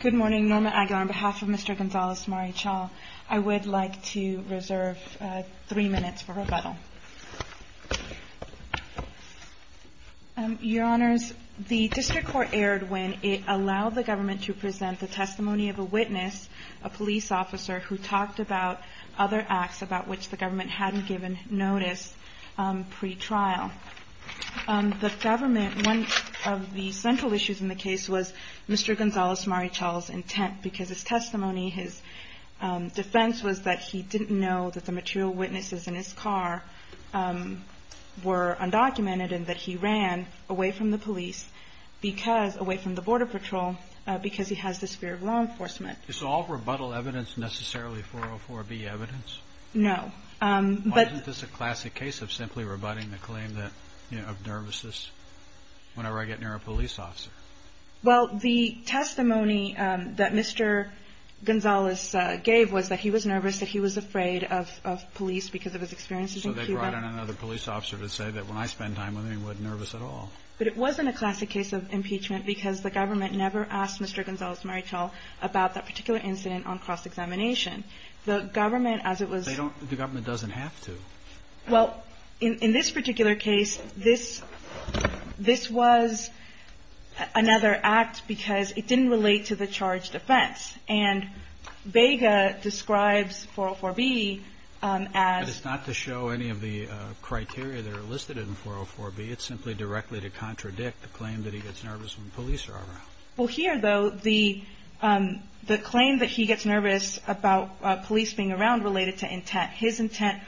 Good morning. Norma Aguilar on behalf of Mr. Gonzalez-Marichal. I would like to reserve three minutes for rebuttal. Your Honors, the District Court erred when it allowed the government to present the testimony of a witness, a police officer, who talked about other acts about which the government hadn't given notice pre-trial. The government, one of the central issues in the case was Mr. Gonzalez-Marichal's intent, because his testimony, his defense was that he didn't know that the material witnesses in his car were undocumented and that he ran away from the police, away from the Border Patrol, because he has this fear of law enforcement. Is all rebuttal evidence necessarily 404B evidence? No. Why isn't this a classic case of simply rebutting the claim of nervousness whenever I get near a police officer? Well, the testimony that Mr. Gonzalez gave was that he was nervous, that he was afraid of police because of his experiences in Cuba. So they brought in another police officer to say that when I spend time with him he wasn't nervous at all. But it wasn't a classic case of impeachment because the government never asked Mr. Gonzalez-Marichal about that particular incident on cross-examination. The government, as it was ---- The government doesn't have to. Well, in this particular case, this was another act because it didn't relate to the charged offense. And Vega describes 404B as ---- But it's not to show any of the criteria that are listed in 404B. It's simply directly to contradict the claim that he gets nervous when police are around. Well, here, though, the claim that he gets nervous about police being around related to intent, his intent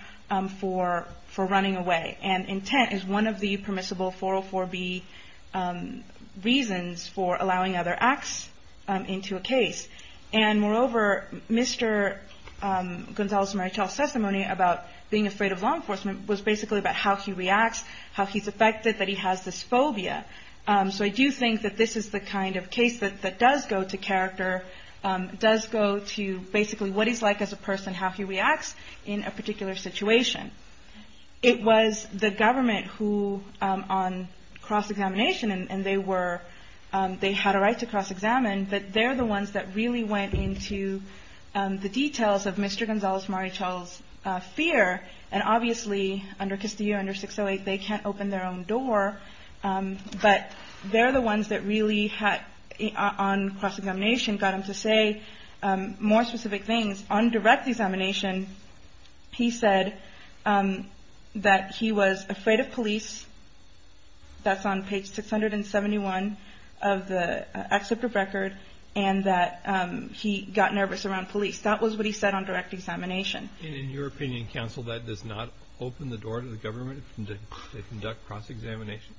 for running away. And intent is one of the permissible 404B reasons for allowing other acts into a case. And, moreover, Mr. Gonzalez-Marichal's testimony about being afraid of law enforcement was basically about how he reacts, how he's affected, that he has this phobia. So I do think that this is the kind of case that does go to character, does go to basically what he's like as a person, how he reacts in a particular situation. It was the government who, on cross-examination, and they were ---- they had a right to cross-examine, but they're the ones that really went into the details of Mr. Gonzalez-Marichal's fear. And, obviously, under Castillo, under 608, they can't open their own door. But they're the ones that really had, on cross-examination, got him to say more specific things. On direct examination, he said that he was afraid of police. That's on page 671 of the excerpt of record, and that he got nervous around police. That was what he said on direct examination. And in your opinion, counsel, that does not open the door to the government to conduct cross-examination?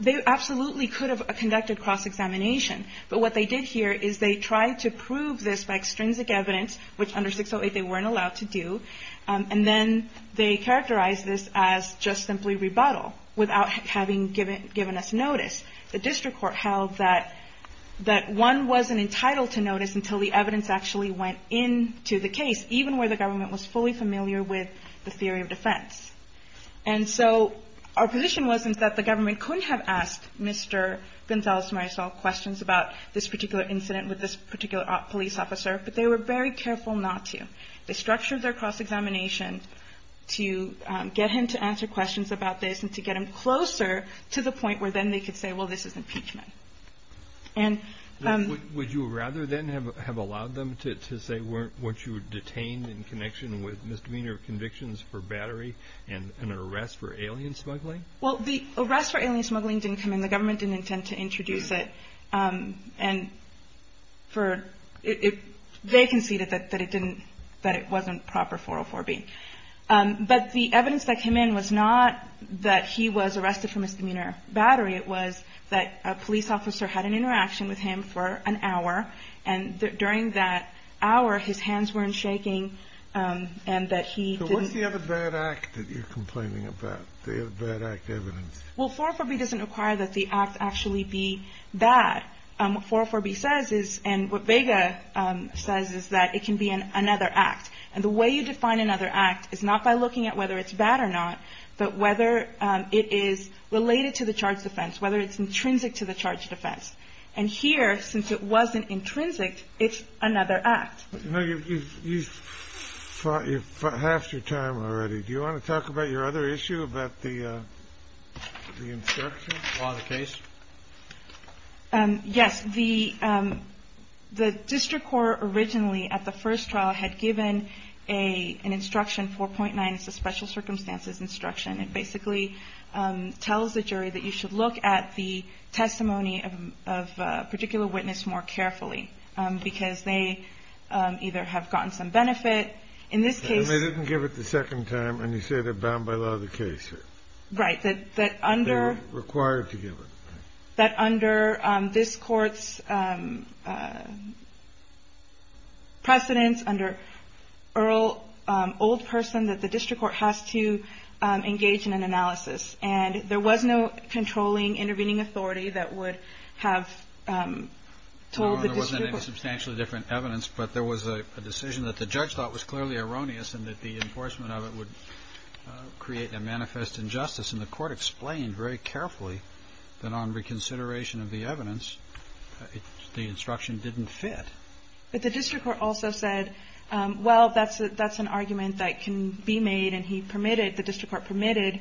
They absolutely could have conducted cross-examination. But what they did here is they tried to prove this by extrinsic evidence, which under 608 they weren't allowed to do, and then they characterized this as just simply rebuttal without having given us notice. The district court held that one wasn't entitled to notice until the evidence actually went into the case, even where the government was fully familiar with the theory of defense. And so our position was that the government couldn't have asked Mr. Gonzalez-Marichal questions about this particular incident with this particular police officer, but they were very careful not to. They structured their cross-examination to get him to answer questions about this and to get him closer to the point where then they could say, well, this is impeachment. Would you rather then have allowed them to say once you were detained in connection with misdemeanor convictions for battery and an arrest for alien smuggling? Well, the arrest for alien smuggling didn't come in. The government didn't intend to introduce it, and they conceded that it wasn't proper 404B. But the evidence that came in was not that he was arrested for misdemeanor battery. It was that a police officer had an interaction with him for an hour, and during that hour, his hands weren't shaking and that he didn't. So what's the other bad act that you're complaining about, the other bad act evidence? Well, 404B doesn't require that the act actually be that. What 404B says is, and what Vega says, is that it can be another act. And the way you define another act is not by looking at whether it's bad or not, but whether it is related to the charge of offense, whether it's intrinsic to the charge of offense. And here, since it wasn't intrinsic, it's another act. You know, you've fought half your time already. Do you want to talk about your other issue, about the instruction? Law of the case? Yes. The district court originally, at the first trial, had given an instruction, 4.9. It's a special circumstances instruction. It basically tells the jury that you should look at the testimony of a particular witness more carefully, because they either have gotten some benefit. In this case they didn't give it the second time, and you say they're bound by law of the case. Right. That under they're required to give it. That under this Court's precedence, under old person, that the district court has to engage in an analysis. And there was no controlling, intervening authority that would have told the district court. No, there wasn't any substantially different evidence, but there was a decision that the judge thought was clearly erroneous and that the enforcement of it would create a manifest injustice. And the court explained very carefully that on reconsideration of the evidence, the instruction didn't fit. But the district court also said, well, that's an argument that can be made, and he permitted the district court permitted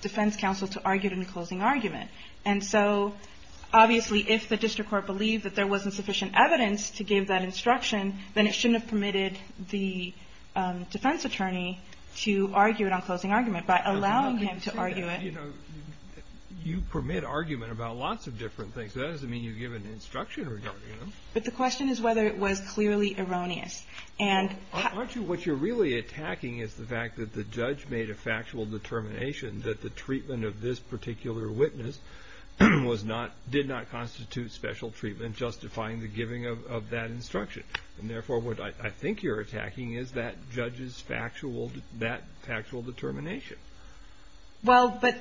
defense counsel to argue it in the closing argument. And so, obviously, if the district court believed that there wasn't sufficient evidence to give that instruction, then it shouldn't have permitted the defense attorney to argue it on closing argument by allowing him to argue it. You know, you permit argument about lots of different things. That doesn't mean you give an instruction regarding them. But the question is whether it was clearly erroneous. Aren't you, what you're really attacking is the fact that the judge made a factual determination that the treatment of this particular witness was not, did not constitute special treatment justifying the giving of that instruction. And therefore, what I think you're attacking is that judge's factual, that factual determination. Well, but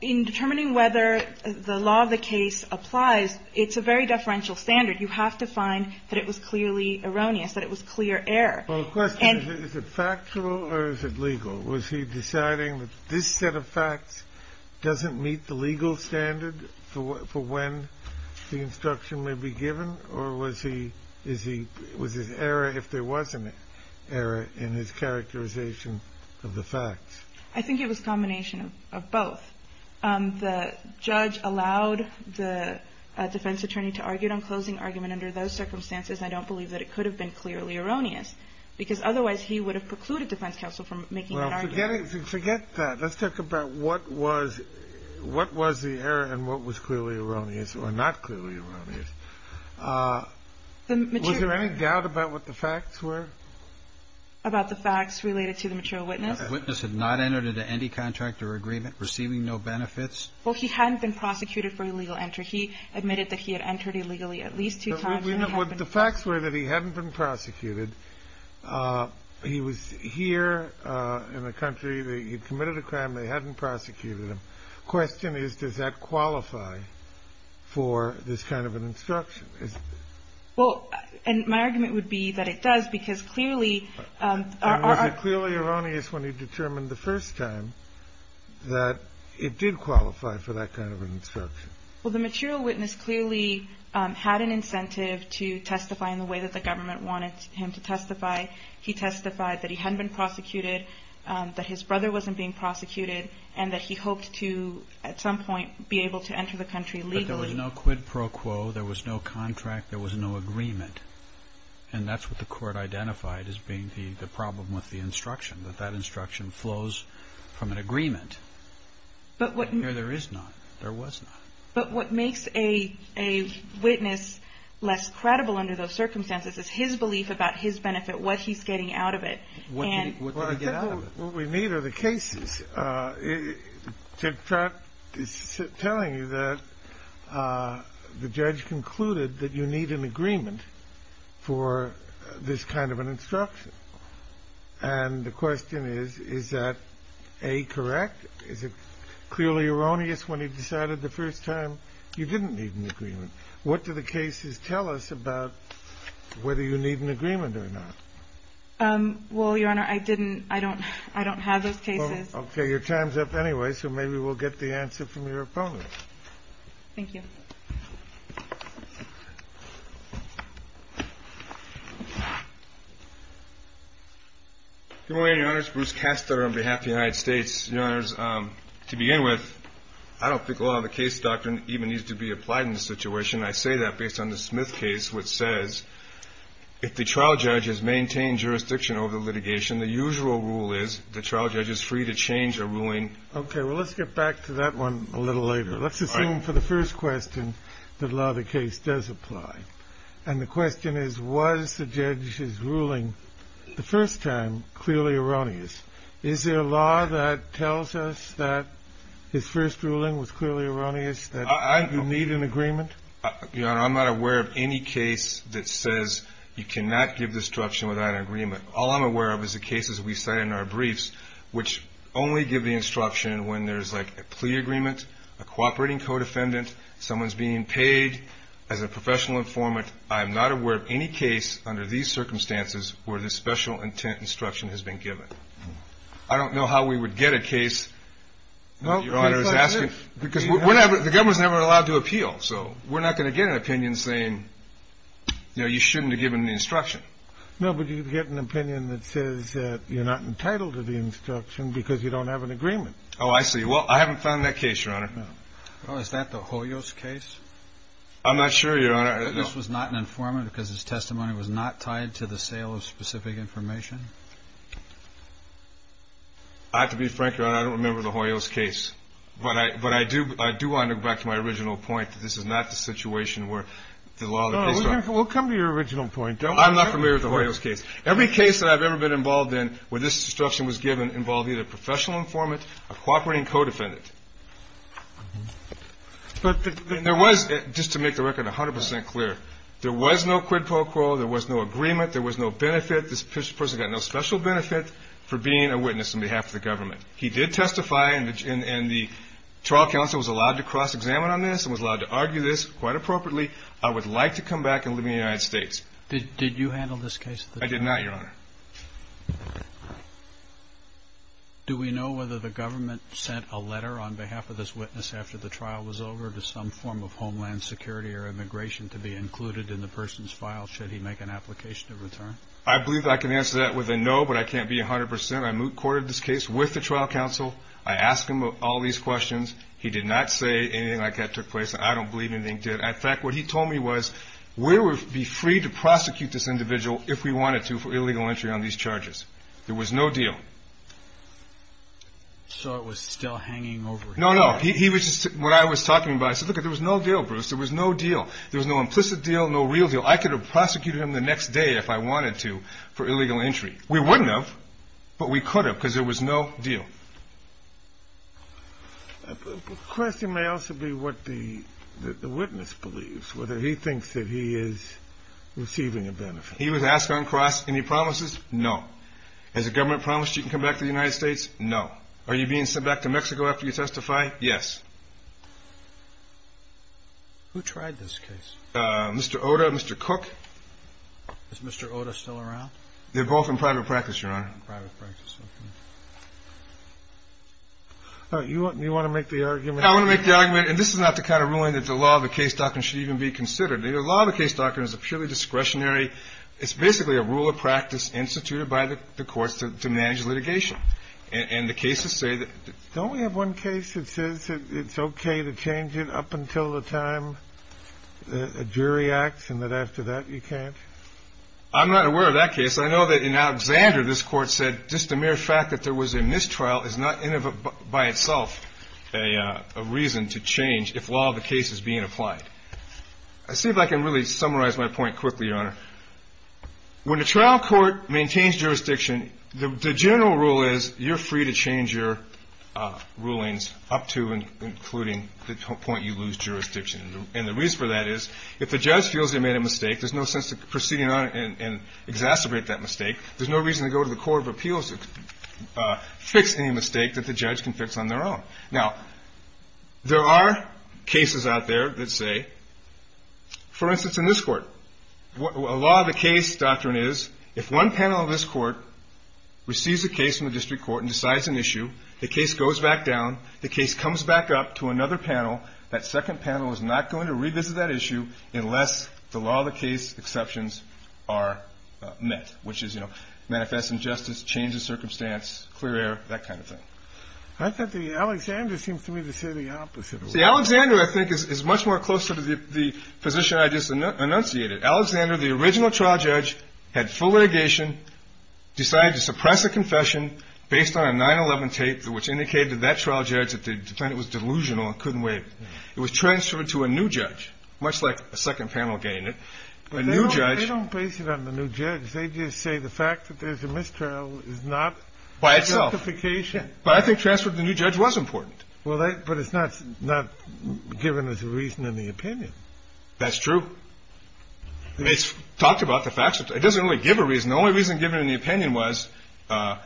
in determining whether the law of the case applies, it's a very deferential standard. You have to find that it was clearly erroneous, that it was clear error. Well, the question is, is it factual or is it legal? Was he deciding that this set of facts doesn't meet the legal standard for when the was his error if there was an error in his characterization of the facts? I think it was a combination of both. The judge allowed the defense attorney to argue it on closing argument under those circumstances. I don't believe that it could have been clearly erroneous because otherwise he would have precluded defense counsel from making an argument. Well, forget that. Let's talk about what was, what was the error and what was clearly erroneous or not clearly erroneous. Was there any doubt about what the facts were? About the facts related to the material witness? The witness had not entered into any contract or agreement, receiving no benefits. Well, he hadn't been prosecuted for illegal entry. He admitted that he had entered illegally at least two times. The facts were that he hadn't been prosecuted. He was here in the country. He had committed a crime. They hadn't prosecuted him. The question is, does that qualify for this kind of an instruction? Well, and my argument would be that it does because clearly our article. It was clearly erroneous when he determined the first time that it did qualify for that kind of an instruction. Well, the material witness clearly had an incentive to testify in the way that the government wanted him to testify. He testified that he hadn't been prosecuted, that his brother wasn't being prosecuted and that he hoped to, at some point, be able to enter the country legally. But there was no quid pro quo. There was no contract. There was no agreement. And that's what the court identified as being the problem with the instruction, that that instruction flows from an agreement. Here there is none. There was none. But what makes a witness less credible under those circumstances is his belief about his benefit, what he's getting out of it. What did he get out of it? What we need are the cases to start telling you that the judge concluded that you need an agreement for this kind of an instruction. And the question is, is that A, correct? Is it clearly erroneous when he decided the first time you didn't need an agreement? What do the cases tell us about whether you need an agreement or not? Well, Your Honor, I didn't. I don't have those cases. Okay. Your time is up anyway, so maybe we'll get the answer from your opponent. Thank you. Good morning, Your Honors. Bruce Castor on behalf of the United States. Your Honors, to begin with, I don't think a lot of the case doctrine even needs to be applied in this situation. I say that based on the Smith case, which says if the trial judge has maintained jurisdiction over litigation, the usual rule is the trial judge is free to change a ruling. Okay. Well, let's get back to that one a little later. Let's assume for the first question that a lot of the case does apply. And the question is, was the judge's ruling the first time clearly erroneous? Is there a law that tells us that his first ruling was clearly erroneous, that you need an agreement? Your Honor, I'm not aware of any case that says you cannot give this instruction without an agreement. All I'm aware of is the cases we cite in our briefs, which only give the instruction when there's, like, a plea agreement, a cooperating co-defendant, someone's being paid as a professional informant. I am not aware of any case under these circumstances where this special intent instruction has been given. I don't know how we would get a case that Your Honor is asking. Because the government's never allowed to appeal, so we're not going to get an opinion saying, you know, you shouldn't have given the instruction. No, but you'd get an opinion that says you're not entitled to the instruction because you don't have an agreement. Oh, I see. Well, I haven't found that case, Your Honor. Oh, is that the Hoyos case? I'm not sure, Your Honor. This was not an informant because his testimony was not tied to the sale of specific information? I have to be frank, Your Honor, I don't remember the Hoyos case. But I do want to go back to my original point that this is not the situation where the law that they sought. Well, we'll come to your original point. I'm not familiar with the Hoyos case. Every case that I've ever been involved in where this instruction was given involved either a professional informant, a cooperating co-defendant. There was, just to make the record 100 percent clear, there was no quid pro quo. There was no agreement. There was no benefit. This person got no special benefit for being a witness on behalf of the government. He did testify, and the trial counsel was allowed to cross-examine on this and was allowed to argue this quite appropriately. I would like to come back and live in the United States. Did you handle this case? I did not, Your Honor. Do we know whether the government sent a letter on behalf of this witness after the trial was over to some form of homeland security or immigration to be included in the person's file should he make an application to return? I believe I can answer that with a no, but I can't be 100 percent. I courted this case with the trial counsel. I asked him all these questions. He did not say anything like that took place. I don't believe anything he did. In fact, what he told me was we would be free to prosecute this individual if we wanted to for illegal entry on these charges. There was no deal. So it was still hanging over his head. No, no. When I was talking about it, I said, look, there was no deal, Bruce. There was no deal. There was no implicit deal, no real deal. I could have prosecuted him the next day if I wanted to for illegal entry. We wouldn't have, but we could have because there was no deal. The question may also be what the witness believes, whether he thinks that he is receiving a benefit. He was asked on cross, any promises? No. Has the government promised you can come back to the United States? No. Are you being sent back to Mexico after you testify? Yes. Who tried this case? Mr. Oda, Mr. Cook. Is Mr. Oda still around? They're both in private practice, Your Honor. You want to make the argument? I want to make the argument, and this is not the kind of ruling that the law of the case doctrine should even be considered. The law of the case doctrine is a purely discretionary, it's basically a rule of practice instituted by the courts to manage litigation. And the cases say that. Don't we have one case that says it's okay to change it up until the time a jury acts and that after that you can't? I'm not aware of that case. I know that in Alexander this Court said just the mere fact that there was a mistrial is not in and of itself a reason to change if law of the case is being applied. Let's see if I can really summarize my point quickly, Your Honor. When a trial court maintains jurisdiction, the general rule is you're free to change your rulings up to and including the point you lose jurisdiction. And the reason for that is if the judge feels they made a mistake, there's no sense in proceeding on it and exacerbate that mistake. There's no reason to go to the court of appeals to fix any mistake that the judge can fix on their own. Now, there are cases out there that say, for instance, in this court, a law of the case doctrine is if one panel of this court receives a case from the district court and decides an issue, the case goes back down, the case comes back up to another panel, that second panel is not going to revisit that issue unless the law of the case exceptions are met, which is, you know, manifest injustice, change of circumstance, clear air, that kind of thing. I thought the Alexander seems to me to say the opposite. See, Alexander, I think, is much more closer to the position I just enunciated. Alexander, the original trial judge, had full litigation, decided to suppress a confession based on a 9-11 tape, which indicated to that trial judge that the defendant was delusional and couldn't waive it. It was transferred to a new judge, much like a second panel gained it. A new judge. But they don't base it on the new judge. They just say the fact that there's a mistrial is not justification. By itself. But I think transferring it to the new judge was important. Well, but it's not given as a reason in the opinion. That's true. It's talked about the facts. It doesn't really give a reason. The only reason given in the opinion was there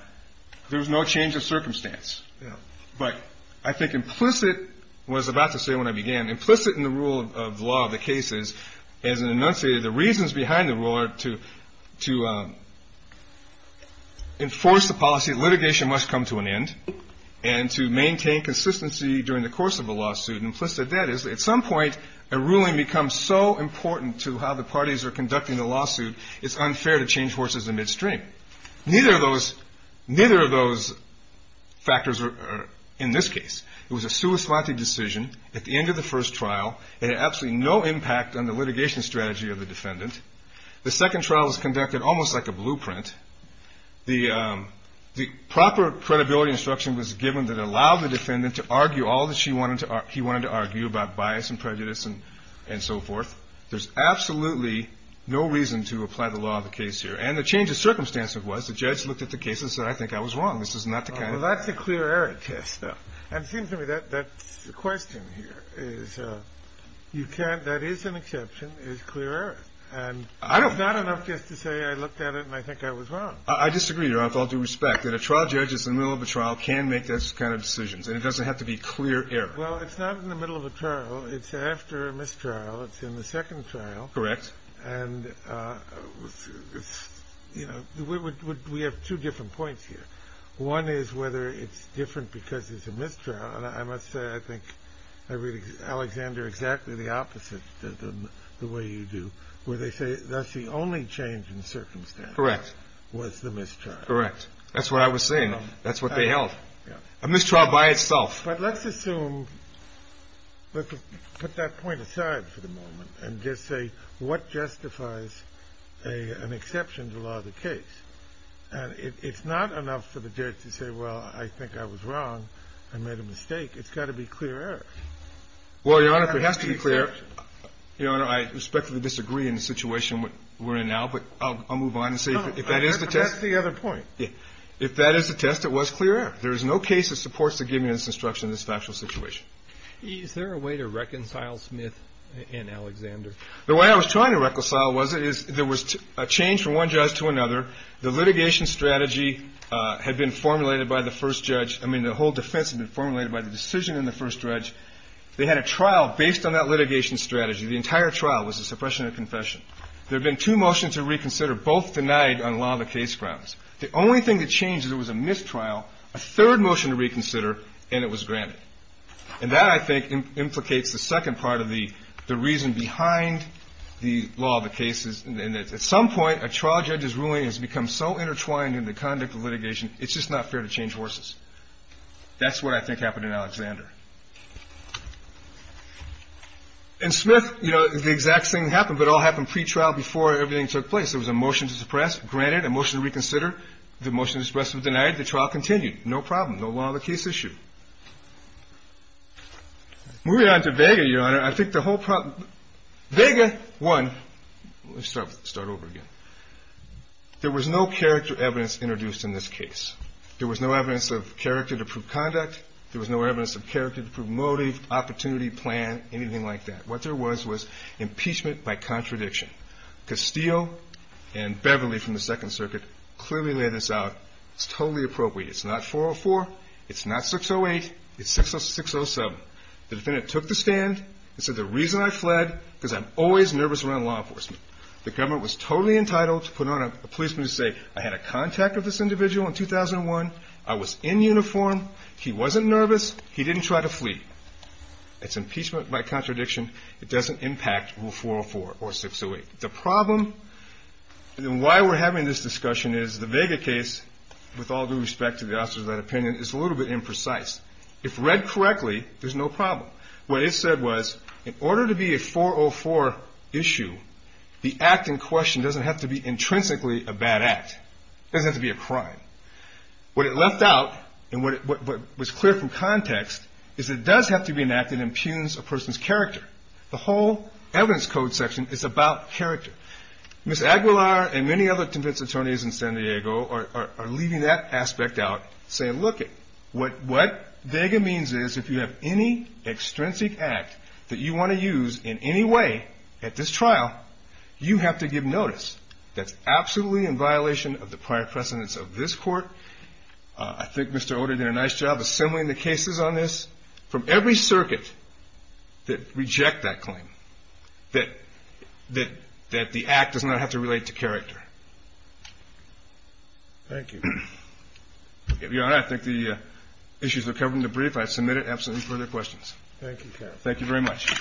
was no change of circumstance. Yeah. But I think implicit was about to say when I began, implicit in the rule of law of the cases, as enunciated, the reasons behind the rule are to enforce the policy that litigation must come to an end and to maintain consistency during the course of a lawsuit. Implicit in that is, at some point, a ruling becomes so important to how the parties are conducting the lawsuit, it's unfair to change horses in midstream. Neither of those factors are in this case. It was a sua slante decision at the end of the first trial. It had absolutely no impact on the litigation strategy of the defendant. The second trial was conducted almost like a blueprint. The proper credibility instruction was given that allowed the defendant to argue all that he wanted to argue about bias and prejudice and so forth. There's absolutely no reason to apply the law of the case here. And the change of circumstance was the judge looked at the case and said, I think I was wrong. This is not the kind of. Well, that's a clear error test, though. And it seems to me that that's the question here is you can't. That is an exception, is clear error. And I don't. Not enough just to say I looked at it and I think I was wrong. I disagree, Your Honor, with all due respect, that a trial judge is in the middle of a trial, can make those kind of decisions, and it doesn't have to be clear error. Well, it's not in the middle of a trial. It's after a mistrial. It's in the second trial. Correct. And, you know, we have two different points here. One is whether it's different because it's a mistrial. And I must say, I think I read Alexander exactly the opposite than the way you do, where they say that's the only change in circumstance. Correct. Was the mistrial. Correct. That's what I was saying. That's what they held. A mistrial by itself. But let's assume, put that point aside for the moment and just say what justifies an exception to law of the case. And it's not enough for the judge to say, well, I think I was wrong. I made a mistake. It's got to be clear error. Well, Your Honor, if it has to be clear error, Your Honor, I respectfully disagree in the situation we're in now, but I'll move on and say if that is the test. That's the other point. If that is the test, it was clear error. There is no case that supports the giving of this instruction in this factual situation. Is there a way to reconcile Smith and Alexander? The way I was trying to reconcile was there was a change from one judge to another. The litigation strategy had been formulated by the first judge. I mean, the whole defense had been formulated by the decision in the first judge. They had a trial based on that litigation strategy. The entire trial was a suppression of confession. There had been two motions to reconsider, both denied on law of the case grounds. The only thing that changed is there was a mistrial, a third motion to reconsider, and it was granted. And that, I think, implicates the second part of the reason behind the law of the case. At some point, a trial judge's ruling has become so intertwined in the conduct of litigation, it's just not fair to change horses. That's what I think happened in Alexander. In Smith, you know, the exact same thing happened, but it all happened pretrial before everything took place. There was a motion to suppress, granted, a motion to reconsider. The motion to suppress was denied. The trial continued. No problem. No law of the case issue. Moving on to Vega, Your Honor, I think the whole problem ‑‑ Vega won. Let's start over again. There was no character evidence introduced in this case. There was no evidence of character to prove conduct. There was no evidence of character to prove motive, opportunity, plan, anything like that. What there was was impeachment by contradiction. Castillo and Beverly from the Second Circuit clearly laid this out. It's totally appropriate. It's not 404. It's not 608. It's 607. The defendant took the stand and said, the reason I fled is because I'm always nervous around law enforcement. The government was totally entitled to put on a policeman to say, I had a contact of this individual in 2001. I was in uniform. He wasn't nervous. He didn't try to flee. It's impeachment by contradiction. It doesn't impact rule 404 or 608. The problem in why we're having this discussion is the Vega case, with all due respect to the officers of that opinion, is a little bit imprecise. If read correctly, there's no problem. What it said was, in order to be a 404 issue, the act in question doesn't have to be intrinsically a bad act. It doesn't have to be a crime. What it left out, and what was clear from context, is it does have to be an act that impugns a person's character. The whole evidence code section is about character. Ms. Aguilar and many other convinced attorneys in San Diego are leaving that aspect out, saying, look, what Vega means is, if you have any extrinsic act that you want to use in any way at this trial, you have to give notice. That's absolutely in violation of the prior precedence of this Court. I think Mr. Oded did a nice job assembling the cases on this from every circuit that reject that claim, that the act does not have to relate to character. Thank you. Your Honor, I think the issues are covered in the brief. I submit it. Absolutely no further questions. Thank you, counsel. Thank you very much.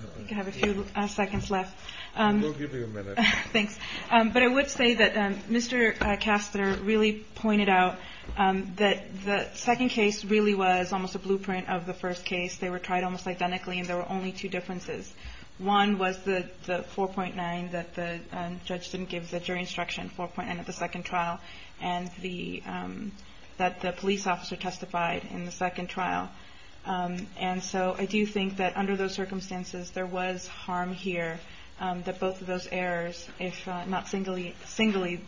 I think I have a few seconds left. We'll give you a minute. Thanks. But I would say that Mr. Castner really pointed out that the second case really was almost a blueprint of the first case. They were tried almost identically, and there were only two differences. One was the 4.9 that the judge didn't give the jury instruction, 4.9 of the second trial, and that the police officer testified in the second trial. And so I do think that under those circumstances there was harm here, that both of those errors, if not singularly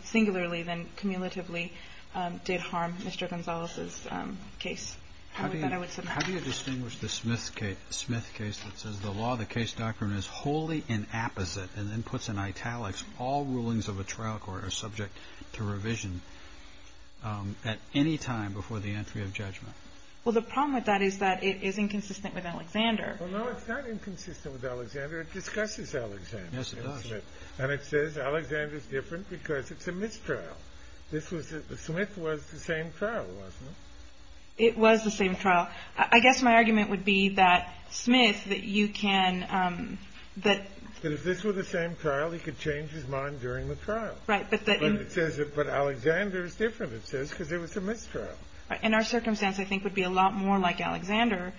then cumulatively, did harm Mr. Gonzalez's case. How do you distinguish the Smith case that says the law of the case doctrine is wholly inapposite and then puts in italics all rulings of a trial court are subject to revision at any time before the entry of judgment? Well, the problem with that is that it is inconsistent with Alexander. Well, no, it's not inconsistent with Alexander. It discusses Alexander. Yes, it does. And it says Alexander is different because it's a mistrial. This was the – Smith was the same trial, wasn't it? It was the same trial. I guess my argument would be that Smith, that you can – that – That if this were the same trial, he could change his mind during the trial. Right, but the – But it says – but Alexander is different, it says, because it was a mistrial. In our circumstance, I think it would be a lot more like Alexander,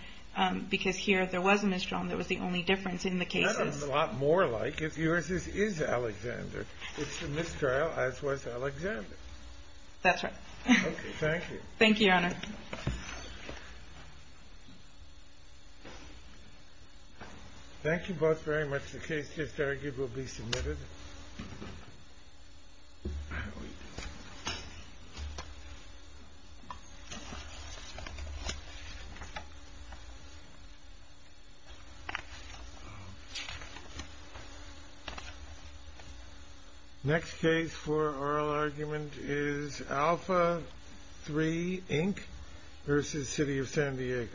because here there was a mistrial and that was the only difference in the cases. It's not a lot more like. Yours is Alexander. It's a mistrial, as was Alexander. That's right. Okay. Thank you. Thank you, Your Honor. Thank you. Thank you both very much. The case is arguably submitted. Next case for oral argument is Alpha 3, Inc. versus City of San Diego. Thank you.